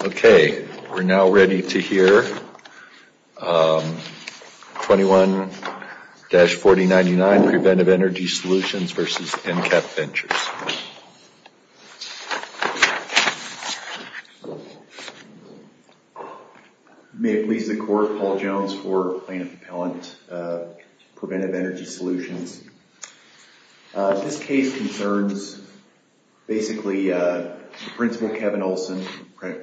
Okay, we're now ready to hear 21-4099 Preventive Energy Solutions v. nCap Ventures. May it please the Court, Paul Jones for Plano Propellant, Preventive Energy Solutions. This case concerns basically Principal Kevin Olson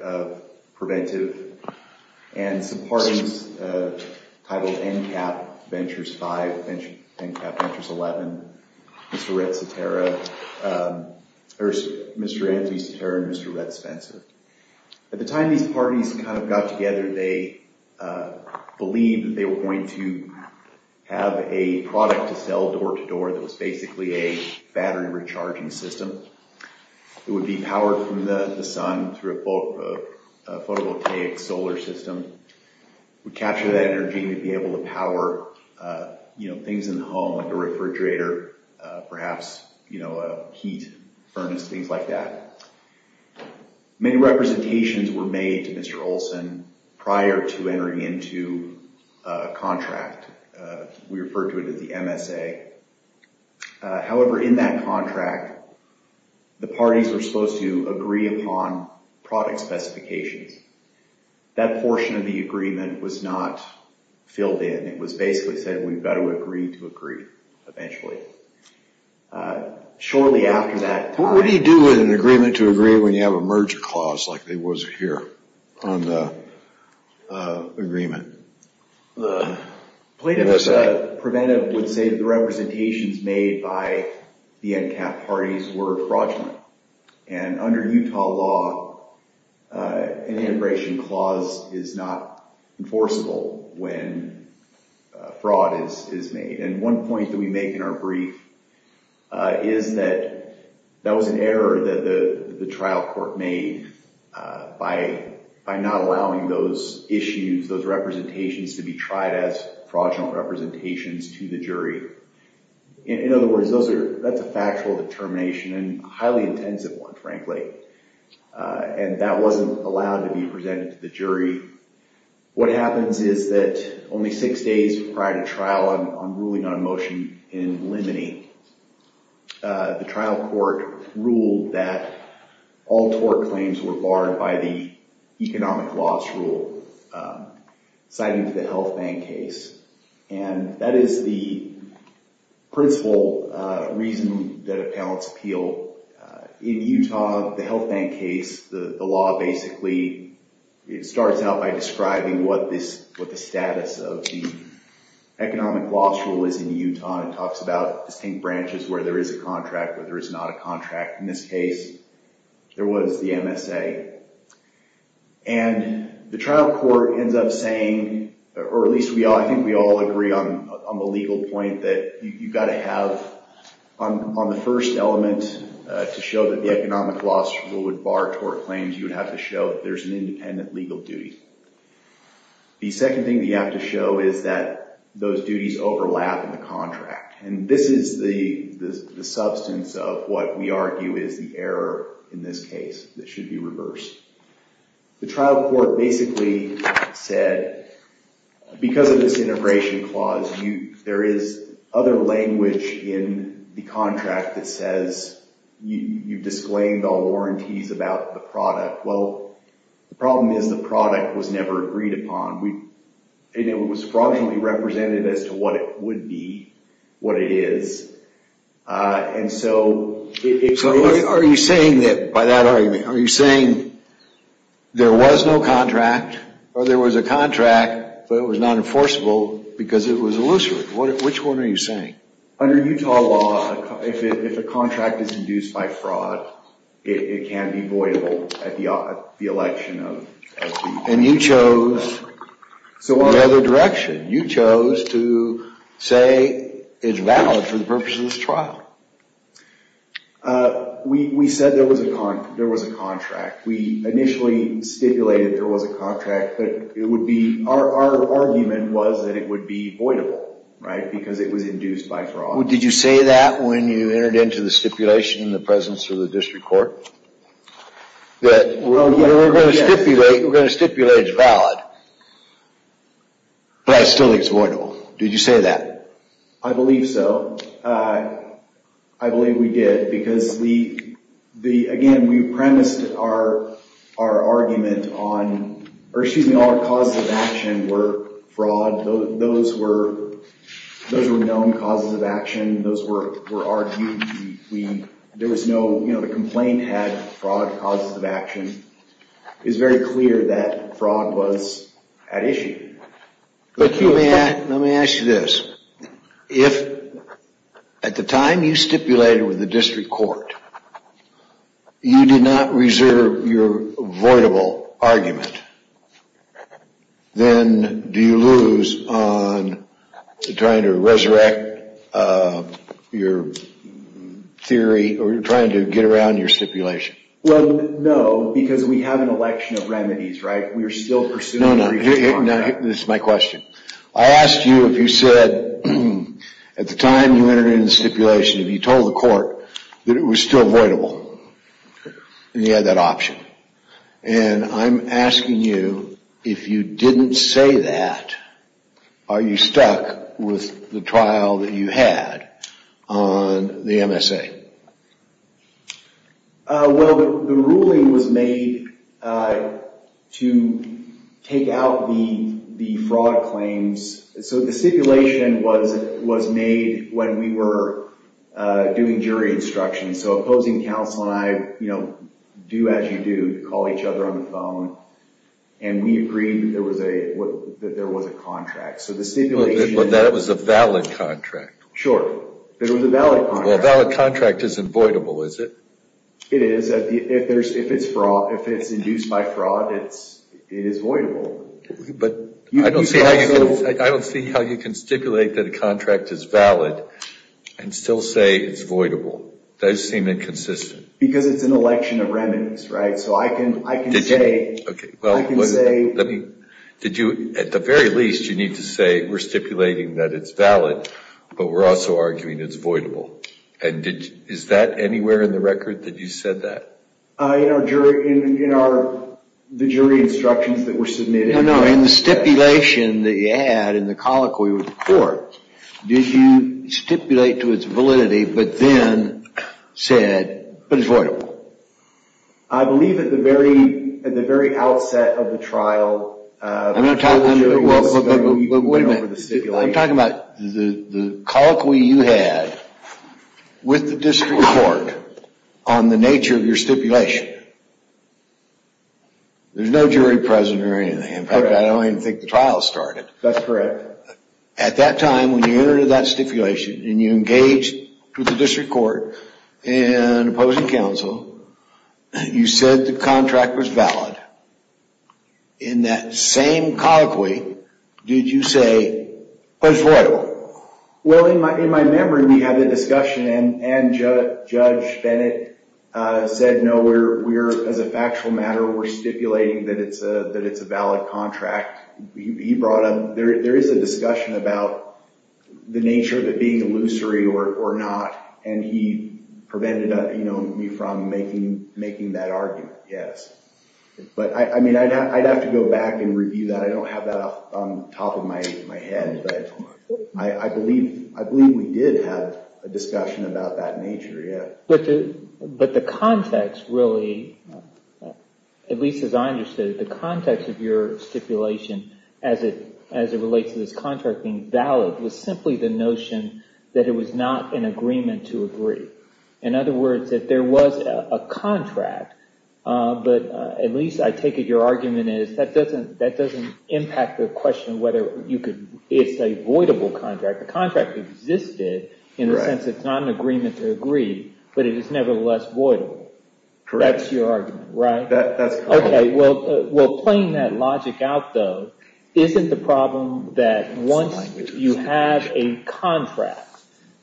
of Preventive and some parties titled nCap Ventures 5, nCap Ventures 11, Mr. Anthony Cetera and Mr. Rhett Spencer. At the time these parties kind of got together, they believed that they were going to have a product to sell door-to-door that was basically a battery recharging system. It would be powered from the sun through a photovoltaic solar system. It would capture that energy and be able to power things in the home like a refrigerator, perhaps a heat furnace, things like that. Many representations were made to Mr. Olson prior to entering into a contract. We refer to it as the MSA. However, in that contract, the parties were supposed to agree upon product specifications. That portion of the agreement was not filled in. It was basically said we've got to agree to agree eventually. What do you do with an agreement to agree when you have a merger clause like there was here on the agreement? Plano Preventive would say the representations made by the nCap parties were fraudulent. Under Utah law, an integration clause is not enforceable when fraud is made. One point that we make in our brief is that that was an error that the trial court made by not allowing those issues, those representations to be tried as fraudulent representations to the jury. In other words, that's a factual determination and a highly intensive one, frankly. That wasn't allowed to be presented to the jury. What happens is that only six days prior to trial, I'm ruling on a motion in limine. The trial court ruled that all tort claims were barred by the economic loss rule, citing the health bank case. That is the principle reason that appellants appeal. In Utah, the health bank case, the law basically starts out by describing what the status of the economic loss rule is in Utah. It talks about distinct branches where there is a contract, where there is not a contract. In this case, there was the MSA. The trial court ends up saying, or at least I think we all agree on the legal point that you've got to have on the first element to show that the economic loss rule would bar tort claims. You would have to show that there's an independent legal duty. The second thing that you have to show is that those duties overlap in the contract. This is the substance of what we argue is the error in this case that should be reversed. The trial court basically said, because of this integration clause, there is other language in the contract that says you've disclaimed all warranties about the product. Well, the problem is the product was never agreed upon. It was fraudulently represented as to what it would be, what it is. Are you saying that by that argument, are you saying there was no contract, or there was a contract, but it was not enforceable because it was illusory? Which one are you saying? Under Utah law, if a contract is induced by fraud, it can be voidable at the election. And you chose the other direction. You chose to say it's valid for the purpose of this trial. We said there was a contract. We initially stipulated there was a contract, but our argument was that it would be voidable because it was induced by fraud. Did you say that when you entered into the stipulation in the presence of the district court? That we're going to stipulate it's valid, but I still think it's voidable. Did you say that? I believe so. I believe we did because, again, we premised our argument on, or excuse me, all our causes of action were fraud. Those were known causes of action. Those were argued. The complaint had fraud causes of action. It's very clear that fraud was at issue. Let me ask you this. If at the time you stipulated with the district court, you did not reserve your voidable argument, then do you lose on trying to resurrect your theory or trying to get around your stipulation? Well, no, because we have an election of remedies, right? We are still pursuing a reform act. No, no. This is my question. I asked you if you said, at the time you entered into the stipulation, if you told the court that it was still voidable and you had that option. And I'm asking you, if you didn't say that, are you stuck with the trial that you had on the MSA? Well, the ruling was made to take out the fraud claims. So the stipulation was made when we were doing jury instruction. So opposing counsel and I, you know, do as you do, call each other on the phone, and we agreed that there was a contract. So the stipulation— Well, that was a valid contract. Sure. It was a valid contract. Well, a valid contract isn't voidable, is it? It is. If it's induced by fraud, it is voidable. But I don't see how you can stipulate that a contract is valid and still say it's voidable. That would seem inconsistent. Because it's an election of remedies, right? So I can say— Okay. And is that anywhere in the record that you said that? In our jury instructions that were submitted. No, no. In the stipulation that you had in the colloquy report, did you stipulate to its validity but then said, but it's voidable? I believe at the very outset of the trial— I'm not talking about— Wait a minute. I'm talking about the colloquy you had with the district court on the nature of your stipulation. There's no jury present or anything. In fact, I don't even think the trial started. That's correct. At that time, when you entered into that stipulation and you engaged with the district court and opposing counsel, you said the contract was valid. In that same colloquy, did you say, but it's voidable? Well, in my memory, we had a discussion, and Judge Bennett said, no, as a factual matter, we're stipulating that it's a valid contract. He brought up—there is a discussion about the nature of it being illusory or not, and he prevented me from making that argument, yes. But, I mean, I'd have to go back and review that. I don't have that off the top of my head, but I believe we did have a discussion about that nature, yes. But the context really, at least as I understood it, the context of your stipulation as it relates to this contract being valid was simply the notion that it was not in agreement to agree. In other words, that there was a contract, but at least I take it your argument is that doesn't impact the question whether it's a voidable contract. The contract existed in the sense that it's not in agreement to agree, but it is nevertheless voidable. Correct. That's your argument, right? That's correct. Okay, well, playing that logic out, though, isn't the problem that once you have a contract,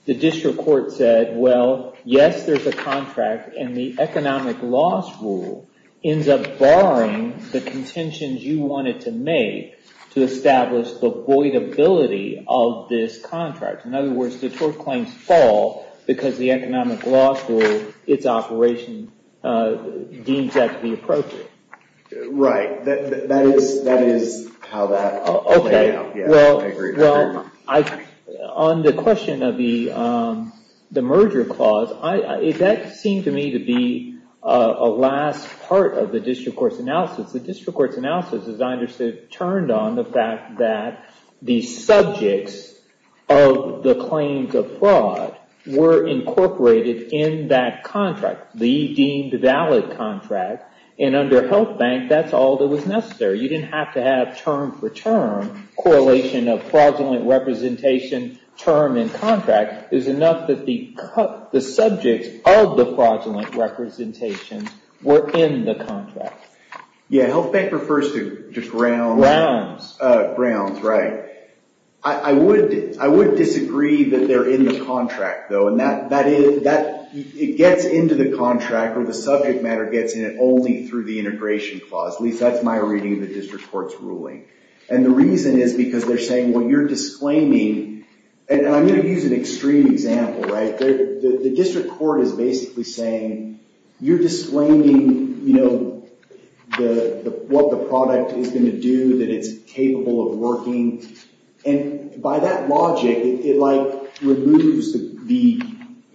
the district court said, well, yes, there's a contract, and the economic loss rule ends up barring the contentions you wanted to make to establish the voidability of this contract. In other words, the tort claims fall because the economic loss rule, its operation, deems that to be appropriate. Right. That is how that— Okay, well— I agree. On the question of the merger clause, that seemed to me to be a last part of the district court's analysis. The district court's analysis, as I understood it, turned on the fact that the subjects of the claims of fraud were incorporated in that contract, the deemed valid contract, and under health bank, that's all that was necessary. You didn't have to have term for term correlation of fraudulent representation, term, and contract. It was enough that the subjects of the fraudulent representation were in the contract. Yeah, health bank refers to just grounds. Grounds. Grounds, right. I would disagree that they're in the contract, though, and it gets into the contract, or the subject matter gets in it only through the integration clause. At least that's my reading of the district court's ruling, and the reason is because they're saying, well, you're disclaiming— and I'm going to use an extreme example, right? The district court is basically saying, you're disclaiming what the product is going to do, that it's capable of working, and by that logic, it removes the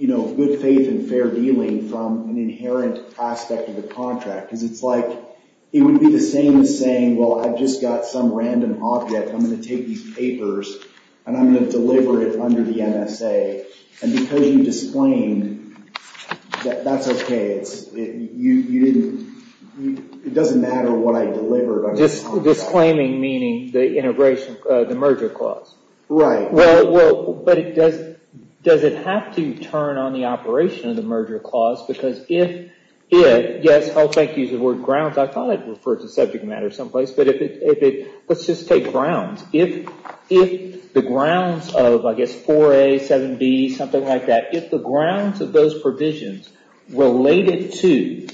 good faith and fair dealing from an inherent aspect of the contract, because it's like it would be the same as saying, well, I've just got some random object. I'm going to take these papers, and I'm going to deliver it under the MSA, and because you disclaimed, that's okay. It doesn't matter what I delivered. Just disclaiming, meaning the merger clause. Right. Well, but does it have to turn on the operation of the merger clause, because if it—yes, I'll use the word grounds. I thought I'd refer to subject matter someplace, but let's just take grounds. If the grounds of, I guess, 4A, 7B, something like that, if the grounds of those provisions related to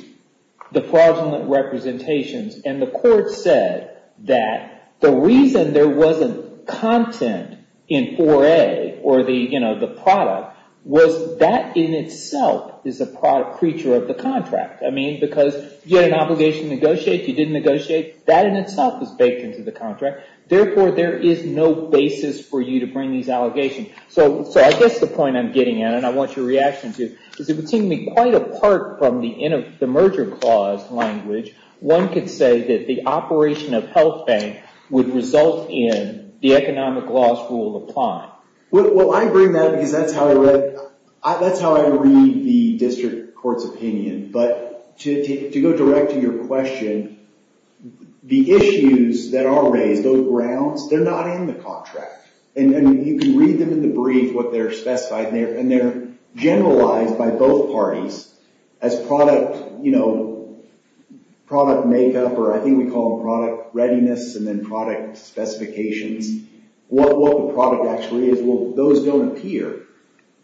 the fraudulent representations, and the court said that the reason there wasn't content in 4A, or the product, was that in itself is a product creature of the contract. I mean, because you had an obligation to negotiate. You didn't negotiate. That in itself is baked into the contract. Therefore, there is no basis for you to bring these allegations. So I guess the point I'm getting at, and I want your reaction to, is it would seem to be quite apart from the merger clause language. One could say that the operation of health bank would result in the economic laws rule applying. Well, I bring that because that's how I read the district court's opinion. But to go direct to your question, the issues that are raised, those grounds, they're not in the contract. And you can read them in the brief, what they're specified. And they're generalized by both parties as product makeup, or I think we call them product readiness, and then product specifications. What the product actually is, well, those don't appear.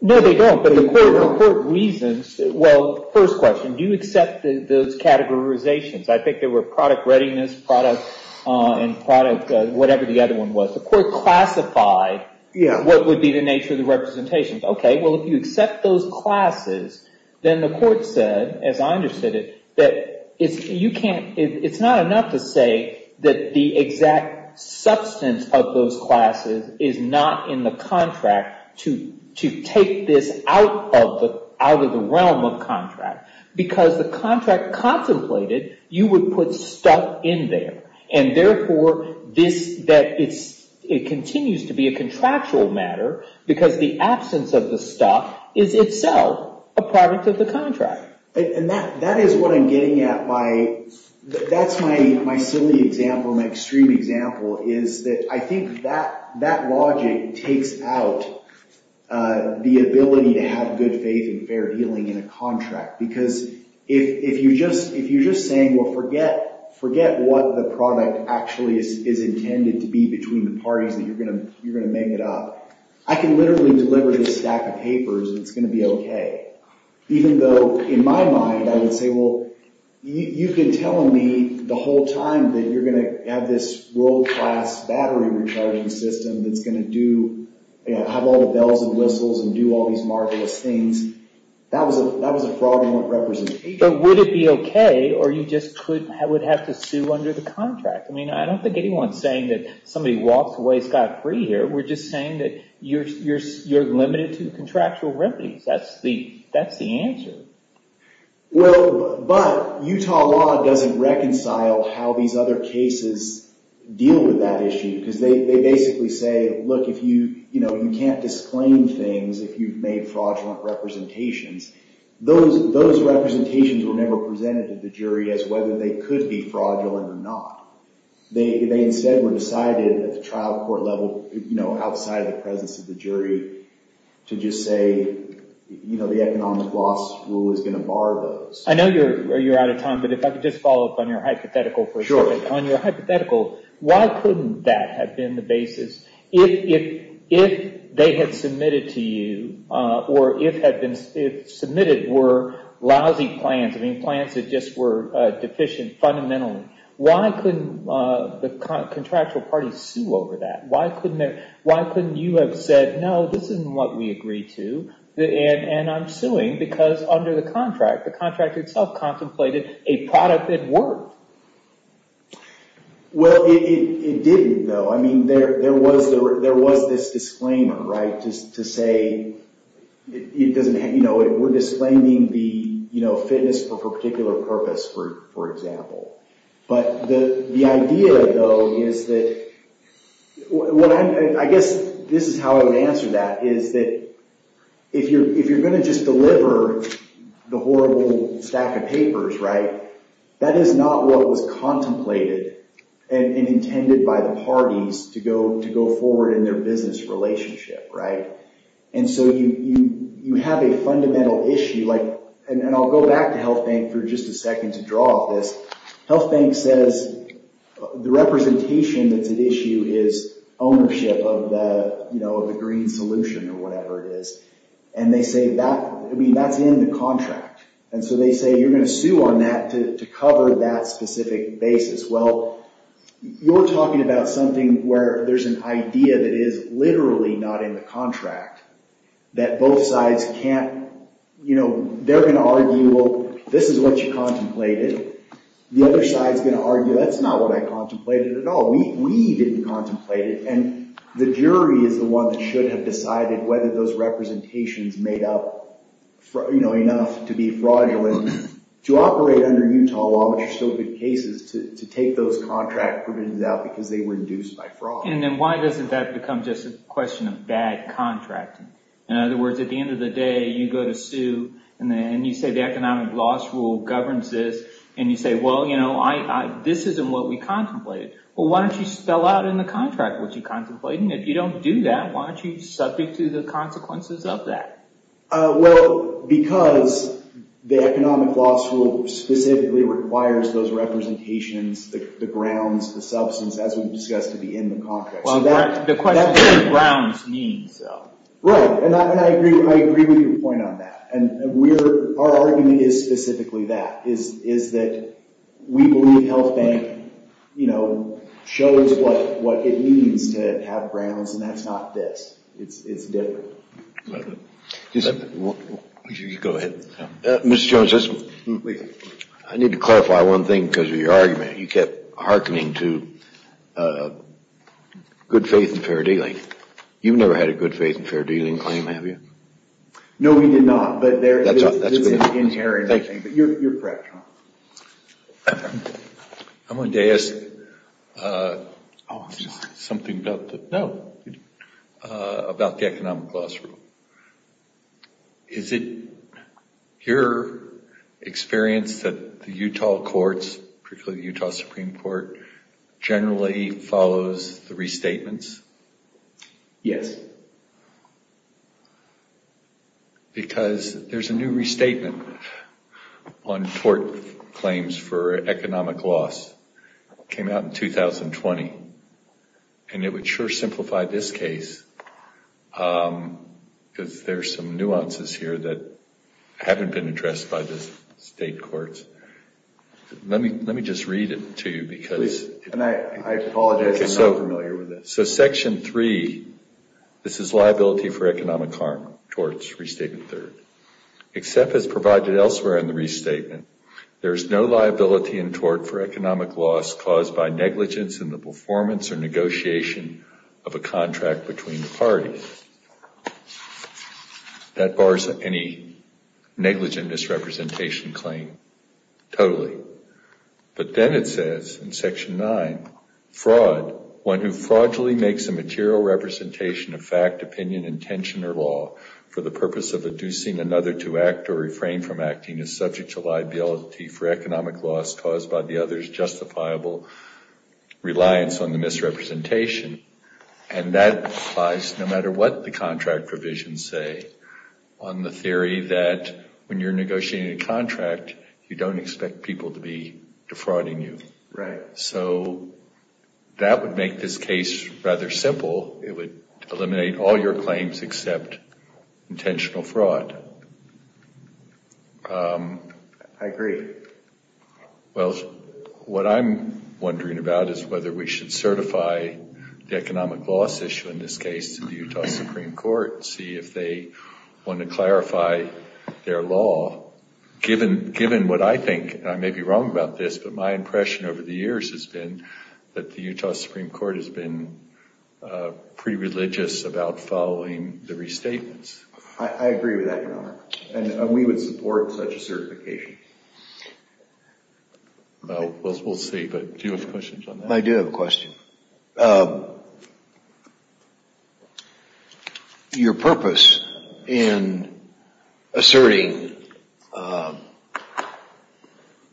No, they don't. But the court reasons, well, first question, do you accept those categorizations? I think they were product readiness, product, and product, whatever the other one was. The court classified what would be the nature of the representations. Okay, well, if you accept those classes, then the court said, as I understood it, that it's not enough to say that the exact substance of those classes is not in the contract to take this out of the realm of contract. Because the contract contemplated, you would put stuff in there. And therefore, it continues to be a contractual matter, because the absence of the stuff is itself a product of the contract. And that is what I'm getting at by, that's my silly example, my extreme example, is that I think that logic takes out the ability to have good faith and fair dealing in a contract. Because if you're just saying, well, forget what the product actually is intended to be between the parties that you're going to make it up, I can literally deliver this stack of papers and it's going to be okay. Even though, in my mind, I would say, well, you've been telling me the whole time that you're going to have this world-class battery recharging system that's going to have all the bells and whistles and do all these marvelous things. That was a fraudulent representation. But would it be okay, or you just would have to sue under the contract? I mean, I don't think anyone's saying that somebody walks away scot-free here. We're just saying that you're limited to contractual remedies. That's the answer. Well, but Utah law doesn't reconcile how these other cases deal with that issue. Because they basically say, look, you can't disclaim things if you've made fraudulent representations. Those representations were never presented to the jury as whether they could be fraudulent or not. They instead were decided at the trial court level, outside of the presence of the jury, to just say the economic loss rule is going to bar those. I know you're out of time, but if I could just follow up on your hypothetical for a second. Sure. On your hypothetical, why couldn't that have been the basis? If they had submitted to you, or if submitted were lousy plans, I mean plans that just were deficient fundamentally, why couldn't the contractual party sue over that? Why couldn't you have said, no, this isn't what we agreed to, and I'm suing because under the contract, the contract itself contemplated a product that worked? Well, it didn't, though. I mean, there was this disclaimer, right, to say we're disclaiming the fitness for a particular purpose, for example. But the idea, though, is that, I guess this is how I would answer that, is that if you're going to just deliver the horrible stack of papers, right, that is not what was contemplated and intended by the parties to go forward in their business relationship, right? And so you have a fundamental issue, and I'll go back to HealthBank for just a second to draw off this. HealthBank says the representation that's at issue is ownership of the green solution or whatever it is, and they say that's in the contract. And so they say you're going to sue on that to cover that specific basis. Well, you're talking about something where there's an idea that is literally not in the contract, that both sides can't, you know, they're going to argue, well, this is what you contemplated. The other side's going to argue, that's not what I contemplated at all. We didn't contemplate it, and the jury is the one that should have decided whether those representations made up, you know, enough to be fraudulent to operate under Utah law, which are still good cases, to take those contract provisions out because they were induced by fraud. And then why doesn't that become just a question of bad contracting? In other words, at the end of the day, you go to sue, and you say the economic loss rule governs this, and you say, well, you know, this isn't what we contemplated. Well, why don't you spell out in the contract what you contemplated? And if you don't do that, why aren't you subject to the consequences of that? Well, because the economic loss rule specifically requires those representations, the grounds, the substance, as we discussed at the end of the contract. Well, the question is what grounds means, though. Right, and I agree with your point on that. And our argument is specifically that, is that we believe Health Bank, you know, shows what it means to have grounds, and that's not this. It's different. Go ahead. Mr. Jones, I need to clarify one thing because of your argument. You kept hearkening to good faith and fair dealing. You've never had a good faith and fair dealing claim, have you? No, we did not, but that's inherent. But you're correct. I wanted to ask something about the economic loss rule. Is it your experience that the Utah courts, particularly the Utah Supreme Court, generally follows the restatements? Yes. Why is that? Because there's a new restatement on tort claims for economic loss. It came out in 2020, and it would sure simplify this case because there's some nuances here that haven't been addressed by the state courts. Let me just read it to you. I apologize, I'm not familiar with this. So section three, this is liability for economic harm, torts, restatement third. Except as provided elsewhere in the restatement, there is no liability in tort for economic loss caused by negligence in the performance or negotiation of a contract between the parties. That bars any negligent misrepresentation claim totally. But then it says in section nine, fraud, one who fraudulently makes a material representation of fact, opinion, intention, or law for the purpose of inducing another to act or refrain from acting is subject to liability for economic loss caused by the other's justifiable reliance on the misrepresentation. And that applies no matter what the contract provisions say on the theory that when you're negotiating a contract, you don't expect people to be defrauding you. So that would make this case rather simple. It would eliminate all your claims except intentional fraud. I agree. Well, what I'm wondering about is whether we should certify the economic loss issue in this case to the Utah Supreme Court and see if they want to clarify their law. Given what I think, and I may be wrong about this, but my impression over the years has been that the Utah Supreme Court has been pretty religious about following the restatements. I agree with that, Your Honor. And we would support such a certification. Well, we'll see. But do you have questions on that? I do have a question. Your purpose in asserting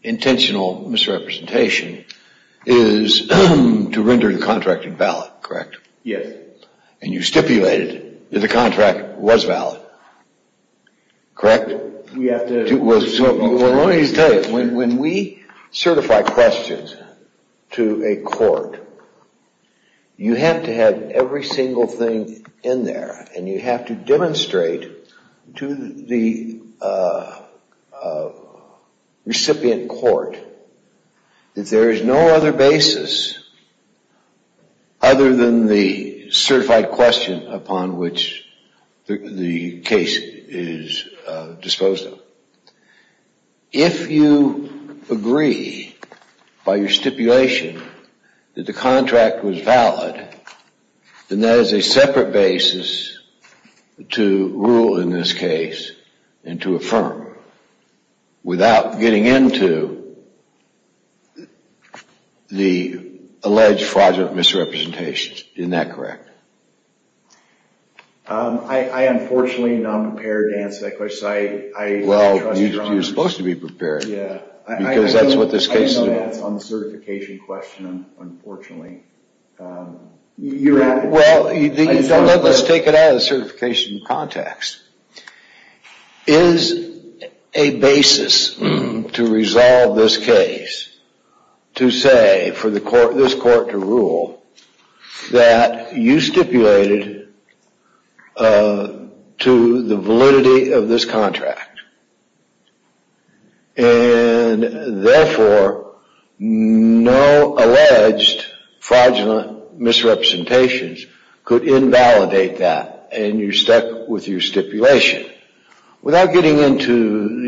intentional misrepresentation is to render the contract invalid, correct? Yes. And you stipulated that the contract was valid, correct? We have to… upon which the case is disposed of. If you agree by your stipulation that the contract was valid, then there is a separate basis to rule in this case and to affirm without getting into the alleged fraudulent misrepresentations. Isn't that correct? I unfortunately am not prepared to answer that question. Well, you're supposed to be prepared, because that's what this case is about. I know that's on the certification question, unfortunately. Well, let's take it out of the certification context. Is a basis to resolve this case to say for this court to rule that you stipulated to the validity of this contract and therefore no alleged fraudulent misrepresentations could invalidate that and you're stuck with your stipulation without getting into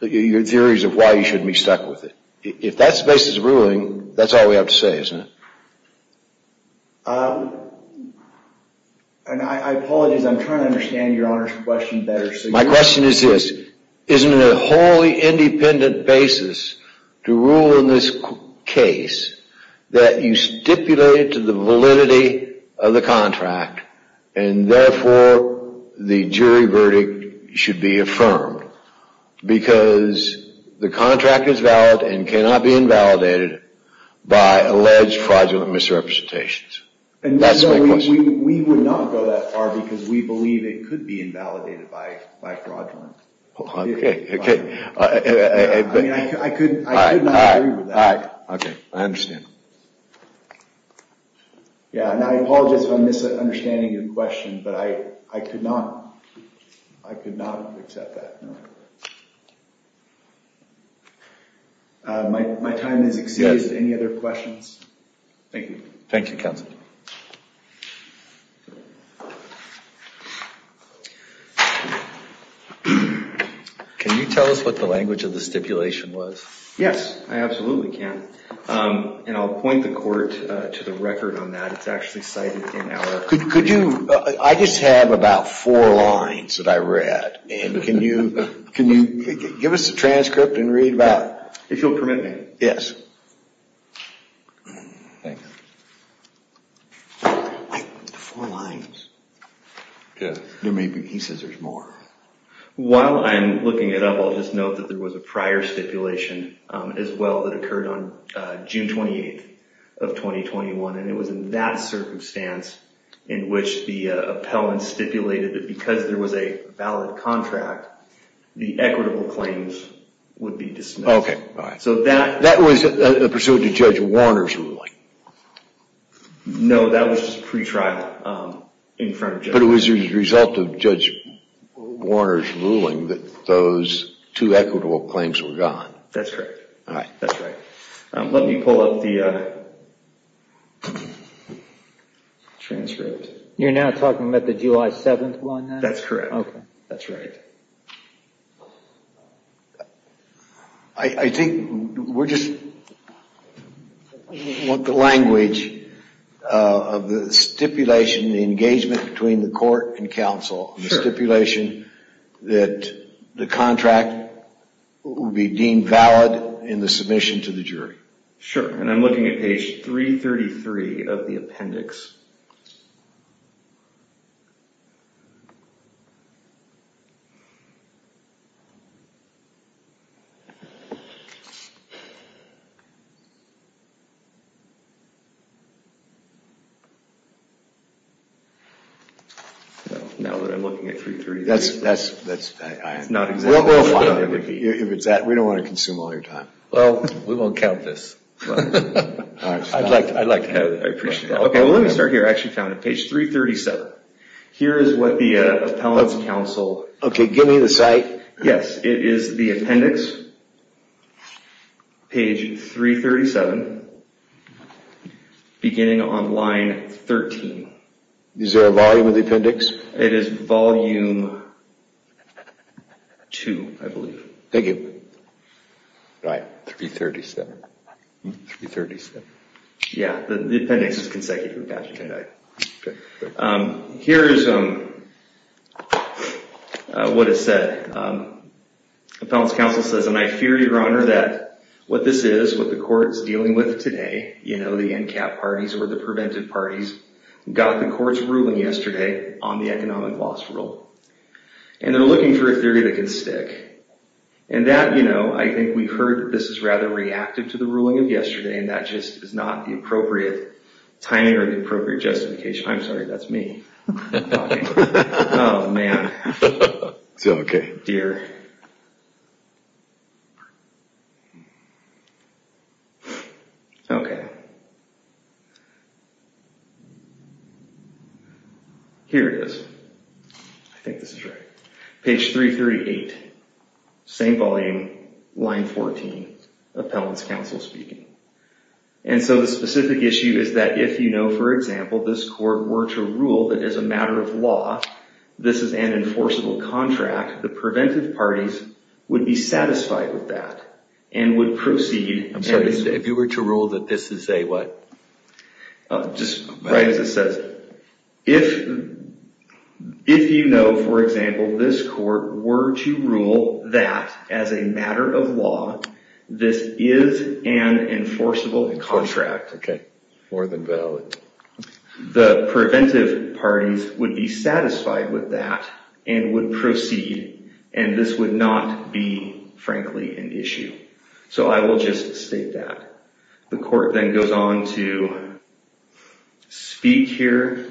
your theories of why you shouldn't be stuck with it. If that's the basis of ruling, that's all we have to say, isn't it? I apologize. I'm trying to understand your Honor's question better. My question is this. Isn't it a wholly independent basis to rule in this case that you stipulated to the validity of the contract and therefore the jury verdict should be affirmed because the contract is valid and cannot be invalidated by alleged fraudulent misrepresentations? We would not go that far because we believe it could be invalidated by fraudulent misrepresentations. I could not agree with that. I understand. I apologize if I'm misunderstanding your question, but I could not accept that. My time has exceeded. Any other questions? Thank you. Thank you, Counsel. Can you tell us what the language of the stipulation was? Yes, I absolutely can. And I'll point the court to the record on that. It's actually cited in our... Could you... I just have about four lines that I read. And can you give us the transcript and read about... If you'll permit me. Yes. Thanks. Wait, the four lines. Yes. There may be pieces. There's more. While I'm looking it up, I'll just note that there was a prior stipulation as well that occurred on June 28th of 2021. And it was in that circumstance in which the appellant stipulated that because there was a valid contract, the equitable claims would be dismissed. Okay, all right. So that... That was pursuant to Judge Warner's ruling. No, that was just pretrial in front of Judge Warner. But it was as a result of Judge Warner's ruling that those two equitable claims were gone. That's correct. All right. That's right. Let me pull up the transcript. You're now talking about the July 7th one? That's correct. Okay. That's right. I think we're just... I want the language of the stipulation, the engagement between the court and counsel, and the stipulation that the contract will be deemed valid in the submission to the jury. Sure. And I'm looking at page 333 of the appendix. Now that I'm looking at 333, that's not exactly... We'll find it if it's that. We don't want to consume all your time. Well, we won't count this. I'd like to have it. I appreciate that. Okay, well let me start here. I actually found it. Page 337. Here is what the appellant's counsel... Okay, give me the site. Yes, it is the appendix, page 337, beginning on line 13. Is there a volume of the appendix? It is volume 2, I believe. Thank you. All right, 337. Yeah, the appendix is consecutive. Here is what it said. Appellant's counsel says, And I fear, Your Honor, that what this is, what the court is dealing with today, you know, the NCAP parties or the preventive parties, got the court's ruling yesterday on the economic loss rule. And they're looking for a theory that can stick. And that, you know, I think we've heard this is rather reactive to the ruling of yesterday, and that just is not the appropriate timing or the appropriate justification. I'm sorry, that's me. Oh, man. It's okay. Dear. Okay. Here it is. I think this is right. Page 338, same volume, line 14. Appellant's counsel speaking. And so the specific issue is that if, you know, for example, this court were to rule that as a matter of law, this is an enforceable contract, the preventive parties would be satisfied with that and would proceed. I'm sorry, if you were to rule that this is a what? Just write as it says. If you know, for example, this court were to rule that as a matter of law, this is an enforceable contract. Okay. More than valid. The preventive parties would be satisfied with that and would proceed, and this would not be, frankly, an issue. So I will just state that. The court then goes on to speak here.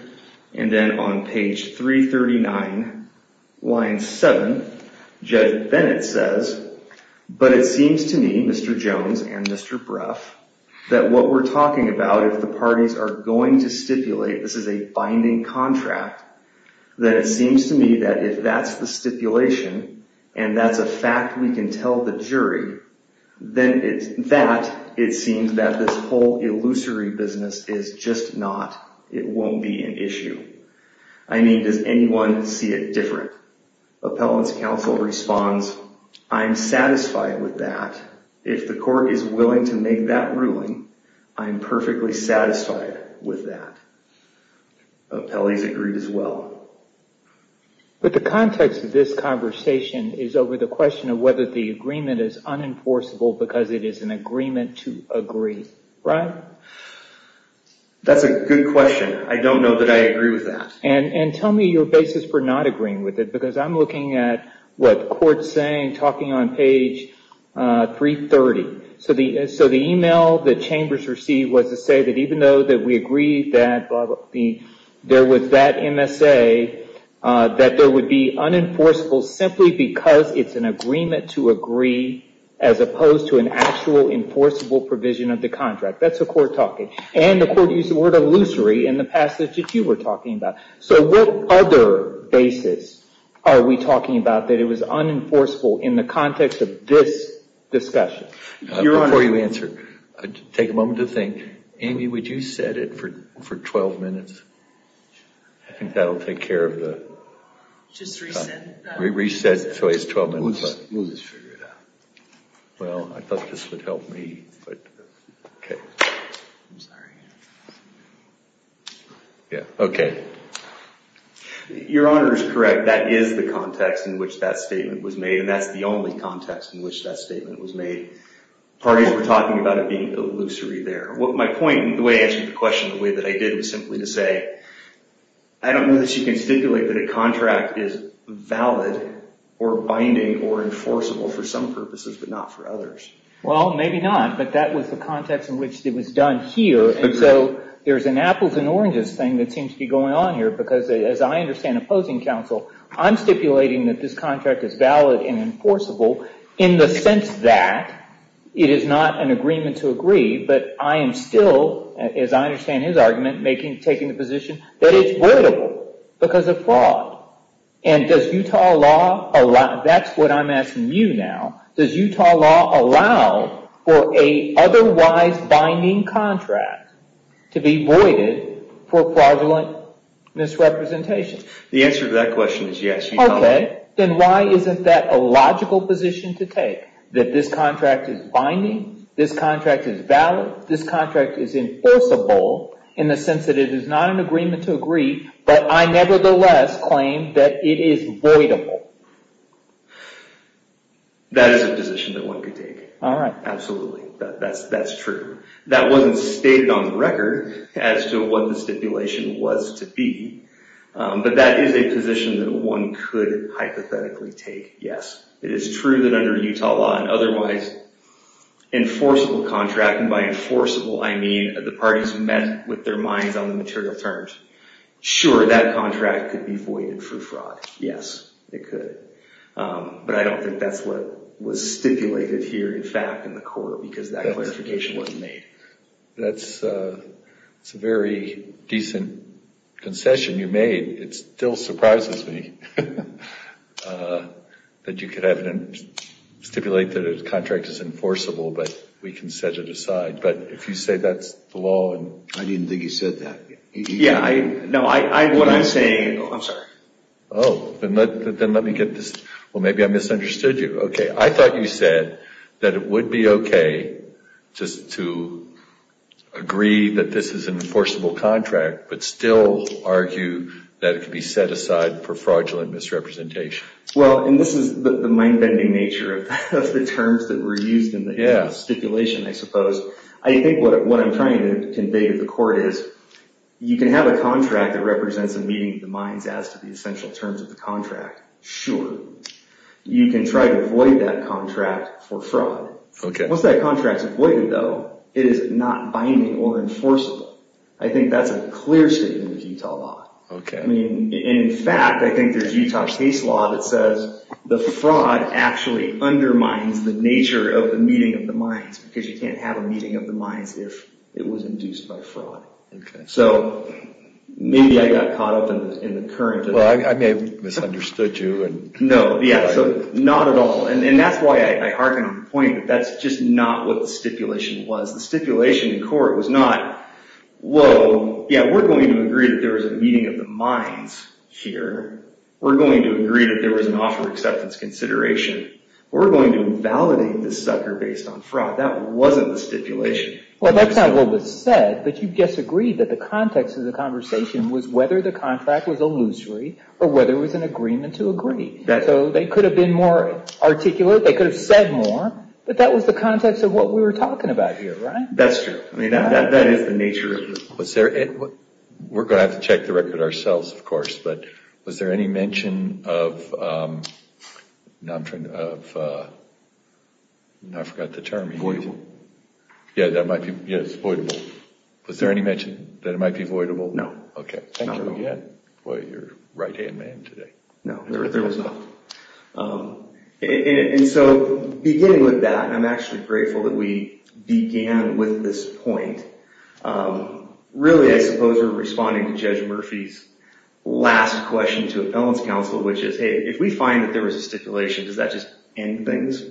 And then on page 339, line 7, Judge Bennett says, but it seems to me, Mr. Jones and Mr. Brough, that what we're talking about, if the parties are going to stipulate this is a binding contract, that it seems to me that if that's the stipulation and that's a fact we can tell the jury, then that, it seems that this whole illusory business is just not, it won't be an issue. I mean, does anyone see it different? Appellant's counsel responds, I'm satisfied with that. If the court is willing to make that ruling, I'm perfectly satisfied with that. Appellee's agreed as well. But the context of this conversation is over the question of whether the agreement is unenforceable because it is an agreement to agree. Right? That's a good question. I don't know that I agree with that. And tell me your basis for not agreeing with it, because I'm looking at what the court's saying, talking on page 330. So the email that chambers received was to say that even though that we say that there would be unenforceable simply because it's an agreement to agree as opposed to an actual enforceable provision of the contract. That's the court talking. And the court used the word illusory in the passage that you were talking about. So what other basis are we talking about that it was unenforceable in the context of this discussion? Before you answer, take a moment to think. Amy, would you set it for 12 minutes? I think that'll take care of the time. Just reset that. Reset so it's 12 minutes. We'll just figure it out. Well, I thought this would help me. Okay. I'm sorry. Yeah, okay. Your Honor is correct. That is the context in which that statement was made, and that's the only context in which that statement was made. Parties were talking about it being illusory there. My point, the way I answered the question, the way that I did it was simply to say, I don't know that you can stipulate that a contract is valid or binding or enforceable for some purposes but not for others. Well, maybe not. But that was the context in which it was done here. So there's an apples and oranges thing that seems to be going on here because, as I understand opposing counsel, I'm stipulating that this contract is valid and enforceable in the sense that it is not an agreement to agree but I am still, as I understand his argument, taking the position that it's voidable because of fraud. And does Utah law allow, that's what I'm asking you now, does Utah law allow for an otherwise binding contract to be voided for fraudulent misrepresentation? The answer to that question is yes, Your Honor. Okay. Then why isn't that a logical position to take, that this contract is binding, this contract is valid, this contract is enforceable in the sense that it is not an agreement to agree but I nevertheless claim that it is voidable? That is a position that one could take. All right. Absolutely. That's true. That wasn't stated on the record as to what the stipulation was to be. But that is a position that one could hypothetically take, yes. It is true that under Utah law an otherwise enforceable contract, and by enforceable I mean the parties met with their minds on the material terms. Sure, that contract could be voided for fraud. Yes, it could. But I don't think that's what was stipulated here in fact in the court because that clarification wasn't made. That's a very decent concession you made. It still surprises me that you could stipulate that a contract is enforceable but we can set it aside. But if you say that's the law. I didn't think you said that. No, what I'm saying. I'm sorry. Oh, then let me get this. Well, maybe I misunderstood you. Okay, I thought you said that it would be okay just to agree that this is an enforceable contract but still argue that it could be set aside for fraudulent misrepresentation. Well, and this is the mind-bending nature of the terms that were used in the stipulation, I suppose. I think what I'm trying to convey to the court is you can have a contract that represents a meeting of the minds as to the essential terms of the contract. Sure. You can try to avoid that contract for fraud. Okay. Once that contract is avoided, though, it is not binding or enforceable. I think that's a clear statement of Utah law. Okay. In fact, I think there's Utah case law that says the fraud actually undermines the nature of the meeting of the minds because you can't have a meeting of the minds if it was induced by fraud. Okay. So maybe I got caught up in the current. Well, I may have misunderstood you. No. Yeah, so not at all. And that's why I harken on the point that that's just not what the stipulation was. The stipulation in court was not, whoa, yeah, we're going to agree that there was a meeting of the minds here. We're going to agree that there was an offer of acceptance consideration. We're going to invalidate this sucker based on fraud. That wasn't the stipulation. Well, that's not what was said, but you disagreed that the context of the conversation was whether the contract was illusory or whether it was an agreement to agree. So they could have been more articulate. They could have said more. But that was the context of what we were talking about here, right? That's true. I mean, that is the nature of it. We're going to have to check the record ourselves, of course, but was there any mention of, I forgot the term. Voidable. Yeah, that might be, yes, voidable. Was there any mention that it might be voidable? No. Okay, thank you again. Boy, you're a right-hand man today. No, there was not. And so beginning with that, and I'm actually grateful that we began with this point, really I suppose we're responding to Judge Murphy's last question to appellant's counsel, which is, hey, if we find that there was a stipulation, does that just end things?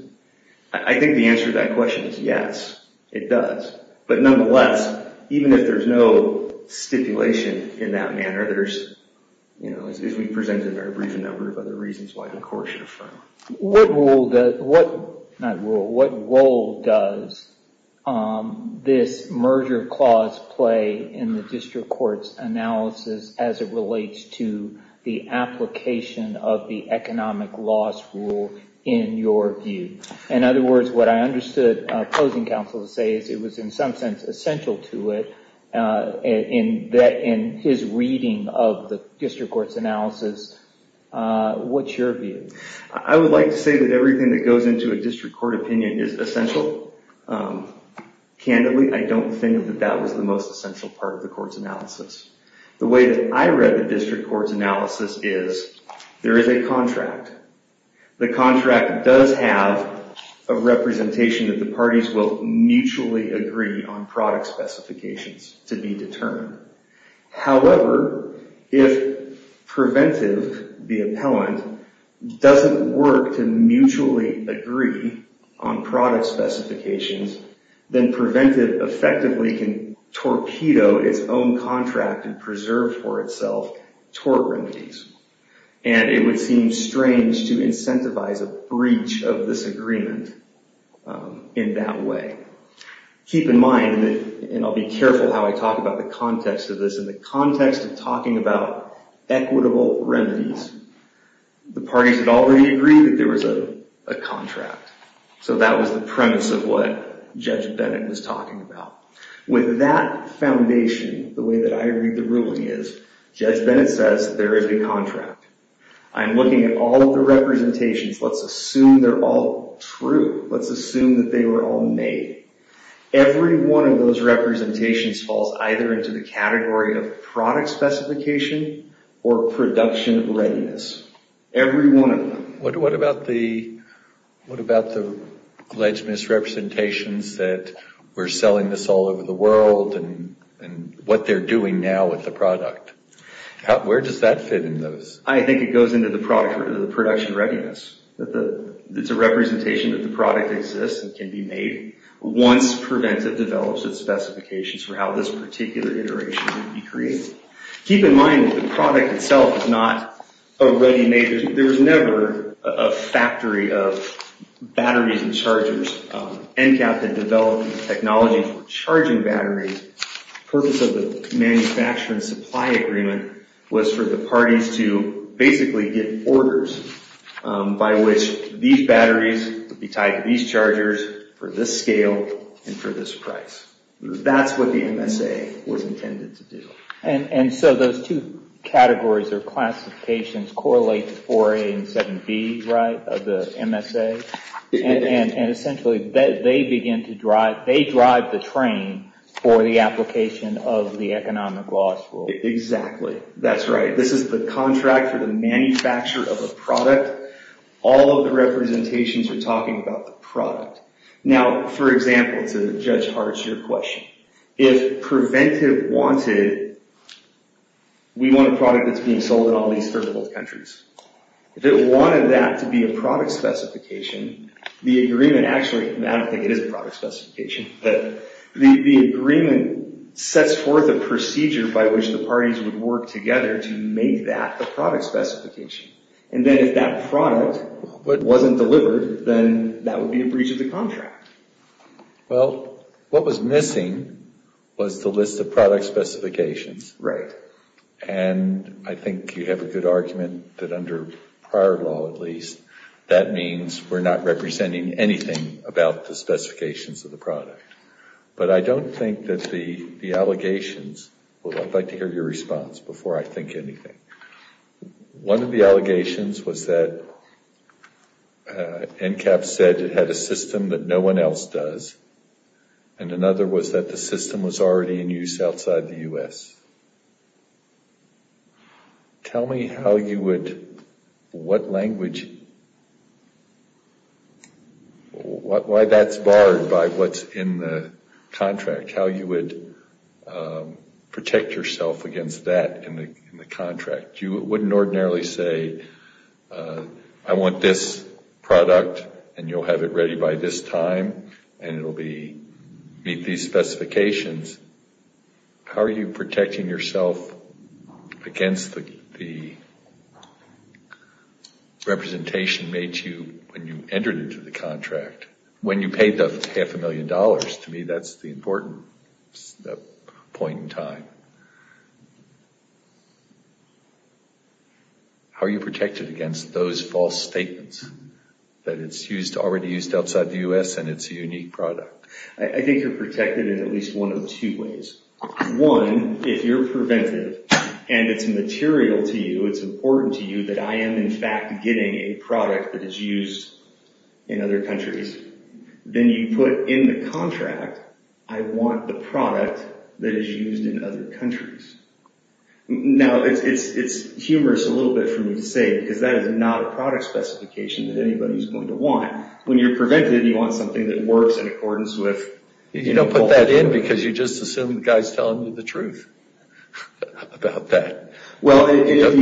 I think the answer to that question is yes, it does. But nonetheless, even if there's no stipulation in that manner, if we present a very brief number of other reasons why the court should affirm. What role does this merger clause play in the district court's analysis as it relates to the application of the economic loss rule in your view? In other words, what I understood opposing counsel to say is it was, in some sense, essential to it in his reading of the district court's analysis. What's your view? I would like to say that everything that goes into a district court opinion is essential. Candidly, I don't think that that was the most essential part of the court's analysis. The way that I read the district court's analysis is there is a contract. The contract does have a representation that the parties will mutually agree on product specifications to be determined. However, if preventive, the appellant, doesn't work to mutually agree on product specifications, then preventive effectively can torpedo its own contract and preserve for itself tort remedies. It would seem strange to incentivize a breach of this agreement in that way. Keep in mind, and I'll be careful how I talk about the context of this, in the context of talking about equitable remedies, the parties would already agree that there was a contract. That was the premise of what Judge Bennett was talking about. With that foundation, the way that I read the ruling is Judge Bennett says there is a contract. I'm looking at all of the representations. Let's assume they're all true. Let's assume that they were all made. Every one of those representations falls either into the category of product specification or production readiness. Every one of them. What about the alleged misrepresentations that we're selling this all over the world and what they're doing now with the product? Where does that fit in those? I think it goes into the production readiness. It's a representation that the product exists and can be made once preventive develops its specifications for how this particular iteration would be created. Keep in mind that the product itself is not already made. There was never a factory of batteries and chargers. NCAP had developed technology for charging batteries for the purpose of manufacturing supply agreement was for the parties to basically get orders by which these batteries would be tied to these chargers for this scale and for this price. That's what the MSA was intended to do. Those two categories or classifications correlate to 4A and 7B of the MSA. Essentially, they begin to drive, they drive the train for the application of the economic law school. Exactly. That's right. This is the contract for the manufacture of a product. All of the representations are talking about the product. Now, for example, to Judge Hart's question, if preventive wanted, we want a product that's being sold in all these third world countries. If it wanted that to be a product specification, the agreement actually, I don't think it is a product specification, but the agreement sets forth a procedure by which the parties would work together to make that the product specification. And then if that product wasn't delivered, then that would be a breach of the contract. Well, what was missing was the list of product specifications. Right. And I think you have a good argument that under prior law, at least, that means we're not representing anything about the specifications of the product. But I don't think that the allegations, I'd like to hear your response before I think anything. One of the allegations was that NCAP said it had a system that no one else does. And another was that the system was already in use outside the U.S. Tell me how you would, what language, why that's barred by what's in the contract, how you would protect yourself against that in the contract. You wouldn't ordinarily say, I want this product and you'll have it ready by this time and it will meet these specifications. How are you protecting yourself against the representation made to you when you entered into the contract, when you paid the half a million dollars? To me, that's the important point in time. How are you protected against those false statements, that it's already used outside the U.S. and it's a unique product? I think you're protected in at least one of two ways. One, if you're preventive and it's material to you, it's important to you that I am in fact getting a product that is used in other countries, then you put in the contract, I want the product that is used in other countries. Now, it's humorous a little bit for me to say because that is not a product specification that anybody's going to want. When you're preventive, you want something that works in accordance with... You don't put that in because you just assume the guy's telling you the truth about that. Well, if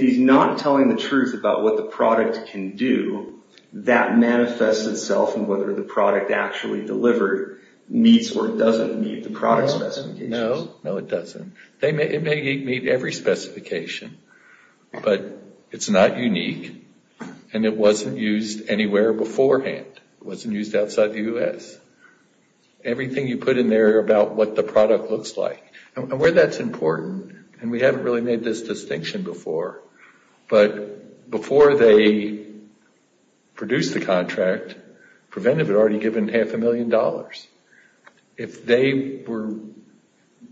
he's not telling the truth about what the product can do, that manifests itself in whether the product actually delivered meets or doesn't meet the product specifications. No, no it doesn't. It may meet every specification, but it's not unique and it wasn't used anywhere beforehand. It wasn't used outside the U.S. Everything you put in there about what the product looks like, and where that's important, and we haven't really made this distinction before, but before they produced the contract, preventive had already given half a million dollars. If they were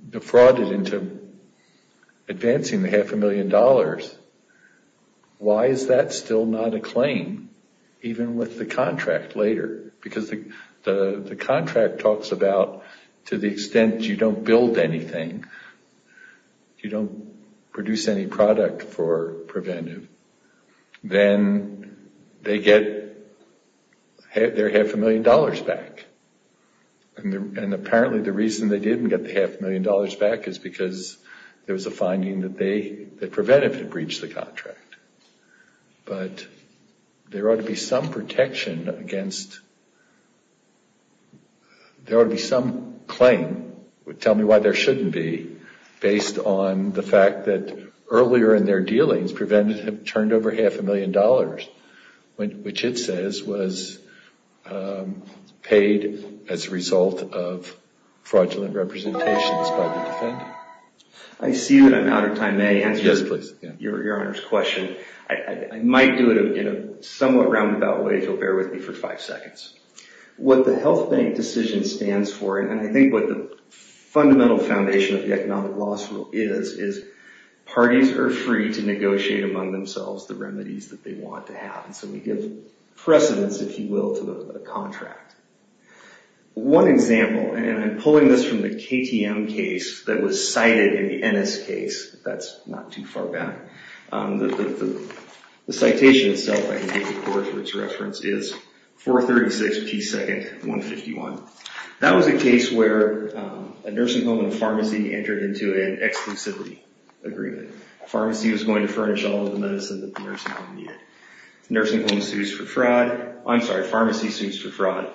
defrauded into advancing the half a million dollars, why is that still not a claim even with the contract later? Because the contract talks about to the extent you don't build anything, you don't produce any product for preventive, then they get their half a million dollars back. And apparently the reason they didn't get the half a million dollars back is because there was a finding that preventive had breached the contract. But there ought to be some protection against... There ought to be some claim, tell me why there shouldn't be, based on the fact that earlier in their dealings, preventive had turned over half a million dollars, which it says was paid as a result of fraudulent representations by the defendant. I see that I'm out of time. May I answer your Honor's question? I might do it in a somewhat roundabout way if you'll bear with me for five seconds. What the health bank decision stands for, and I think what the fundamental foundation of the economic loss rule is, is parties are free to negotiate among themselves the remedies that they want to have, and so we give precedence, if you will, to the contract. One example, and I'm pulling this from the KTM case that was cited in the Ennis case, that's not too far back. The citation itself, I can give you a reference, is 436p2, 151. That was a case where a nursing home and a pharmacy entered into an exclusivity agreement. Pharmacy was going to furnish all of the medicine that the nursing home needed. Nursing home sued for fraud. I'm sorry, pharmacy sued for fraud.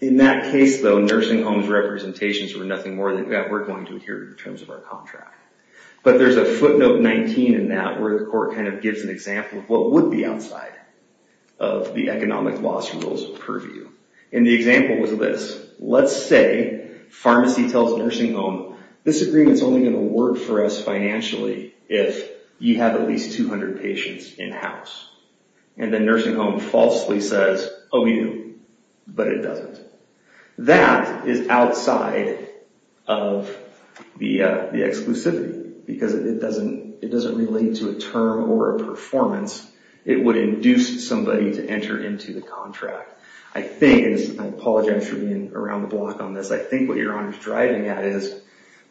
In that case, though, nursing home's representations were nothing more than that we're going to adhere to in terms of our contract. But there's a footnote 19 in that where the court kind of gives an example of what would be outside of the economic loss rule's purview. And the example was this. Let's say pharmacy tells nursing home, this agreement's only going to work for us financially if you have at least 200 patients in-house. And the nursing home falsely says, oh, we do, but it doesn't. That is outside of the exclusivity, because it doesn't relate to a term or a performance. It would induce somebody to enter into the contract. I think, and I apologize for being around the block on this, I think what you're driving at is,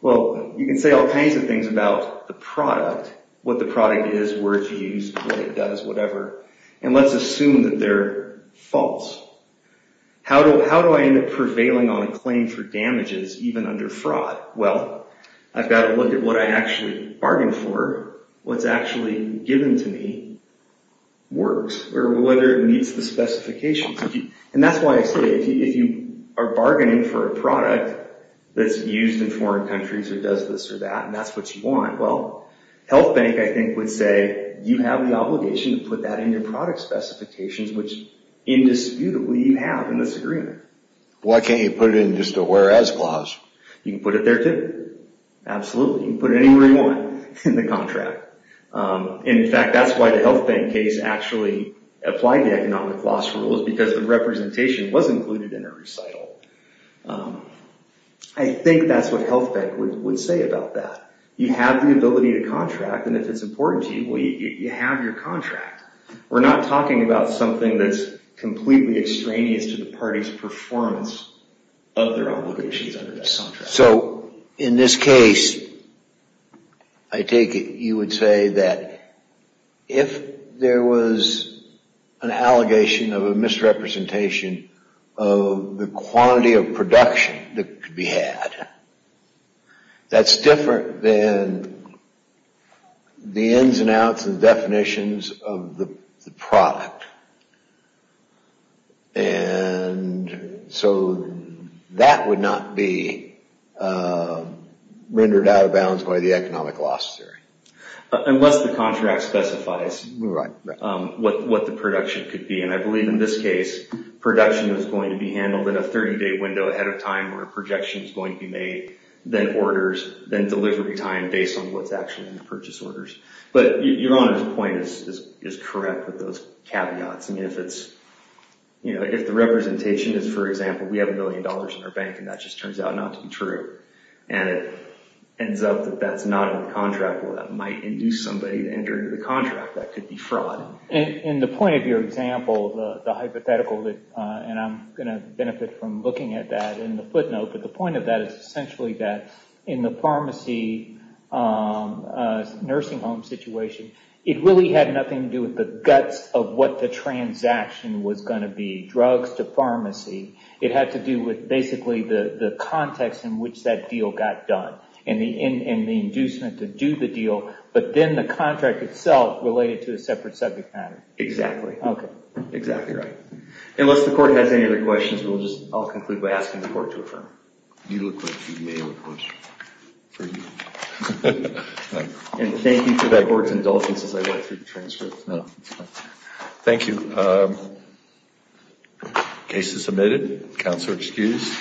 well, you can say all kinds of things about the product, what the product is, where it's used, what it does, whatever, and let's assume that they're false. How do I end up prevailing on a claim for damages, even under fraud? Well, I've got to look at what I actually bargained for, what's actually given to me works, or whether it meets the specifications. And that's why I say if you are bargaining for a product that's used in foreign countries or does this or that, and that's what you want, well, health bank, I think, would say you have the obligation to put that in your product specifications, which indisputably you have in this agreement. Why can't you put it in just a whereas clause? You can put it there, too. Absolutely. You can put it anywhere you want in the contract. In fact, that's why the health bank case actually applied the economic loss rule, is because the representation was included in a recital. I think that's what health bank would say about that. You have the ability to contract, and if it's important to you, well, you have your contract. We're not talking about something that's completely extraneous to the party's performance of their obligations under that contract. So in this case, I take it you would say that if there was an allegation of a misrepresentation of the quantity of production that could be had, that's different than the ins and outs and definitions of the product. And so that would not be rendered out of bounds by the economic loss theory. Unless the contract specifies what the production could be, and I believe in this case production is going to be handled in a 30-day window ahead of time where a projection is going to be made, then orders, then delivery time based on what's actually in the purchase orders. But Your Honor's point is correct with those caveats. If the representation is, for example, we have a million dollars in our bank, and that just turns out not to be true, and it ends up that that's not in the contract, well, that might induce somebody to enter into the contract. That could be fraud. In the point of your example, the hypothetical, and I'm going to benefit from looking at that in the footnote, but the point of that is essentially that in the pharmacy nursing home situation, it really had nothing to do with the guts of what the transaction was going to be, drugs to pharmacy. It had to do with basically the context in which that deal got done and the inducement to do the deal, but then the contract itself related to a separate subject matter. Exactly. Okay. Exactly right. Unless the Court has any other questions, I'll conclude by asking the Court to affirm. You look like you may have a question. And thank you for that Court's indulgence as I went through the transcripts. Thank you. Case is submitted. Counselor excused.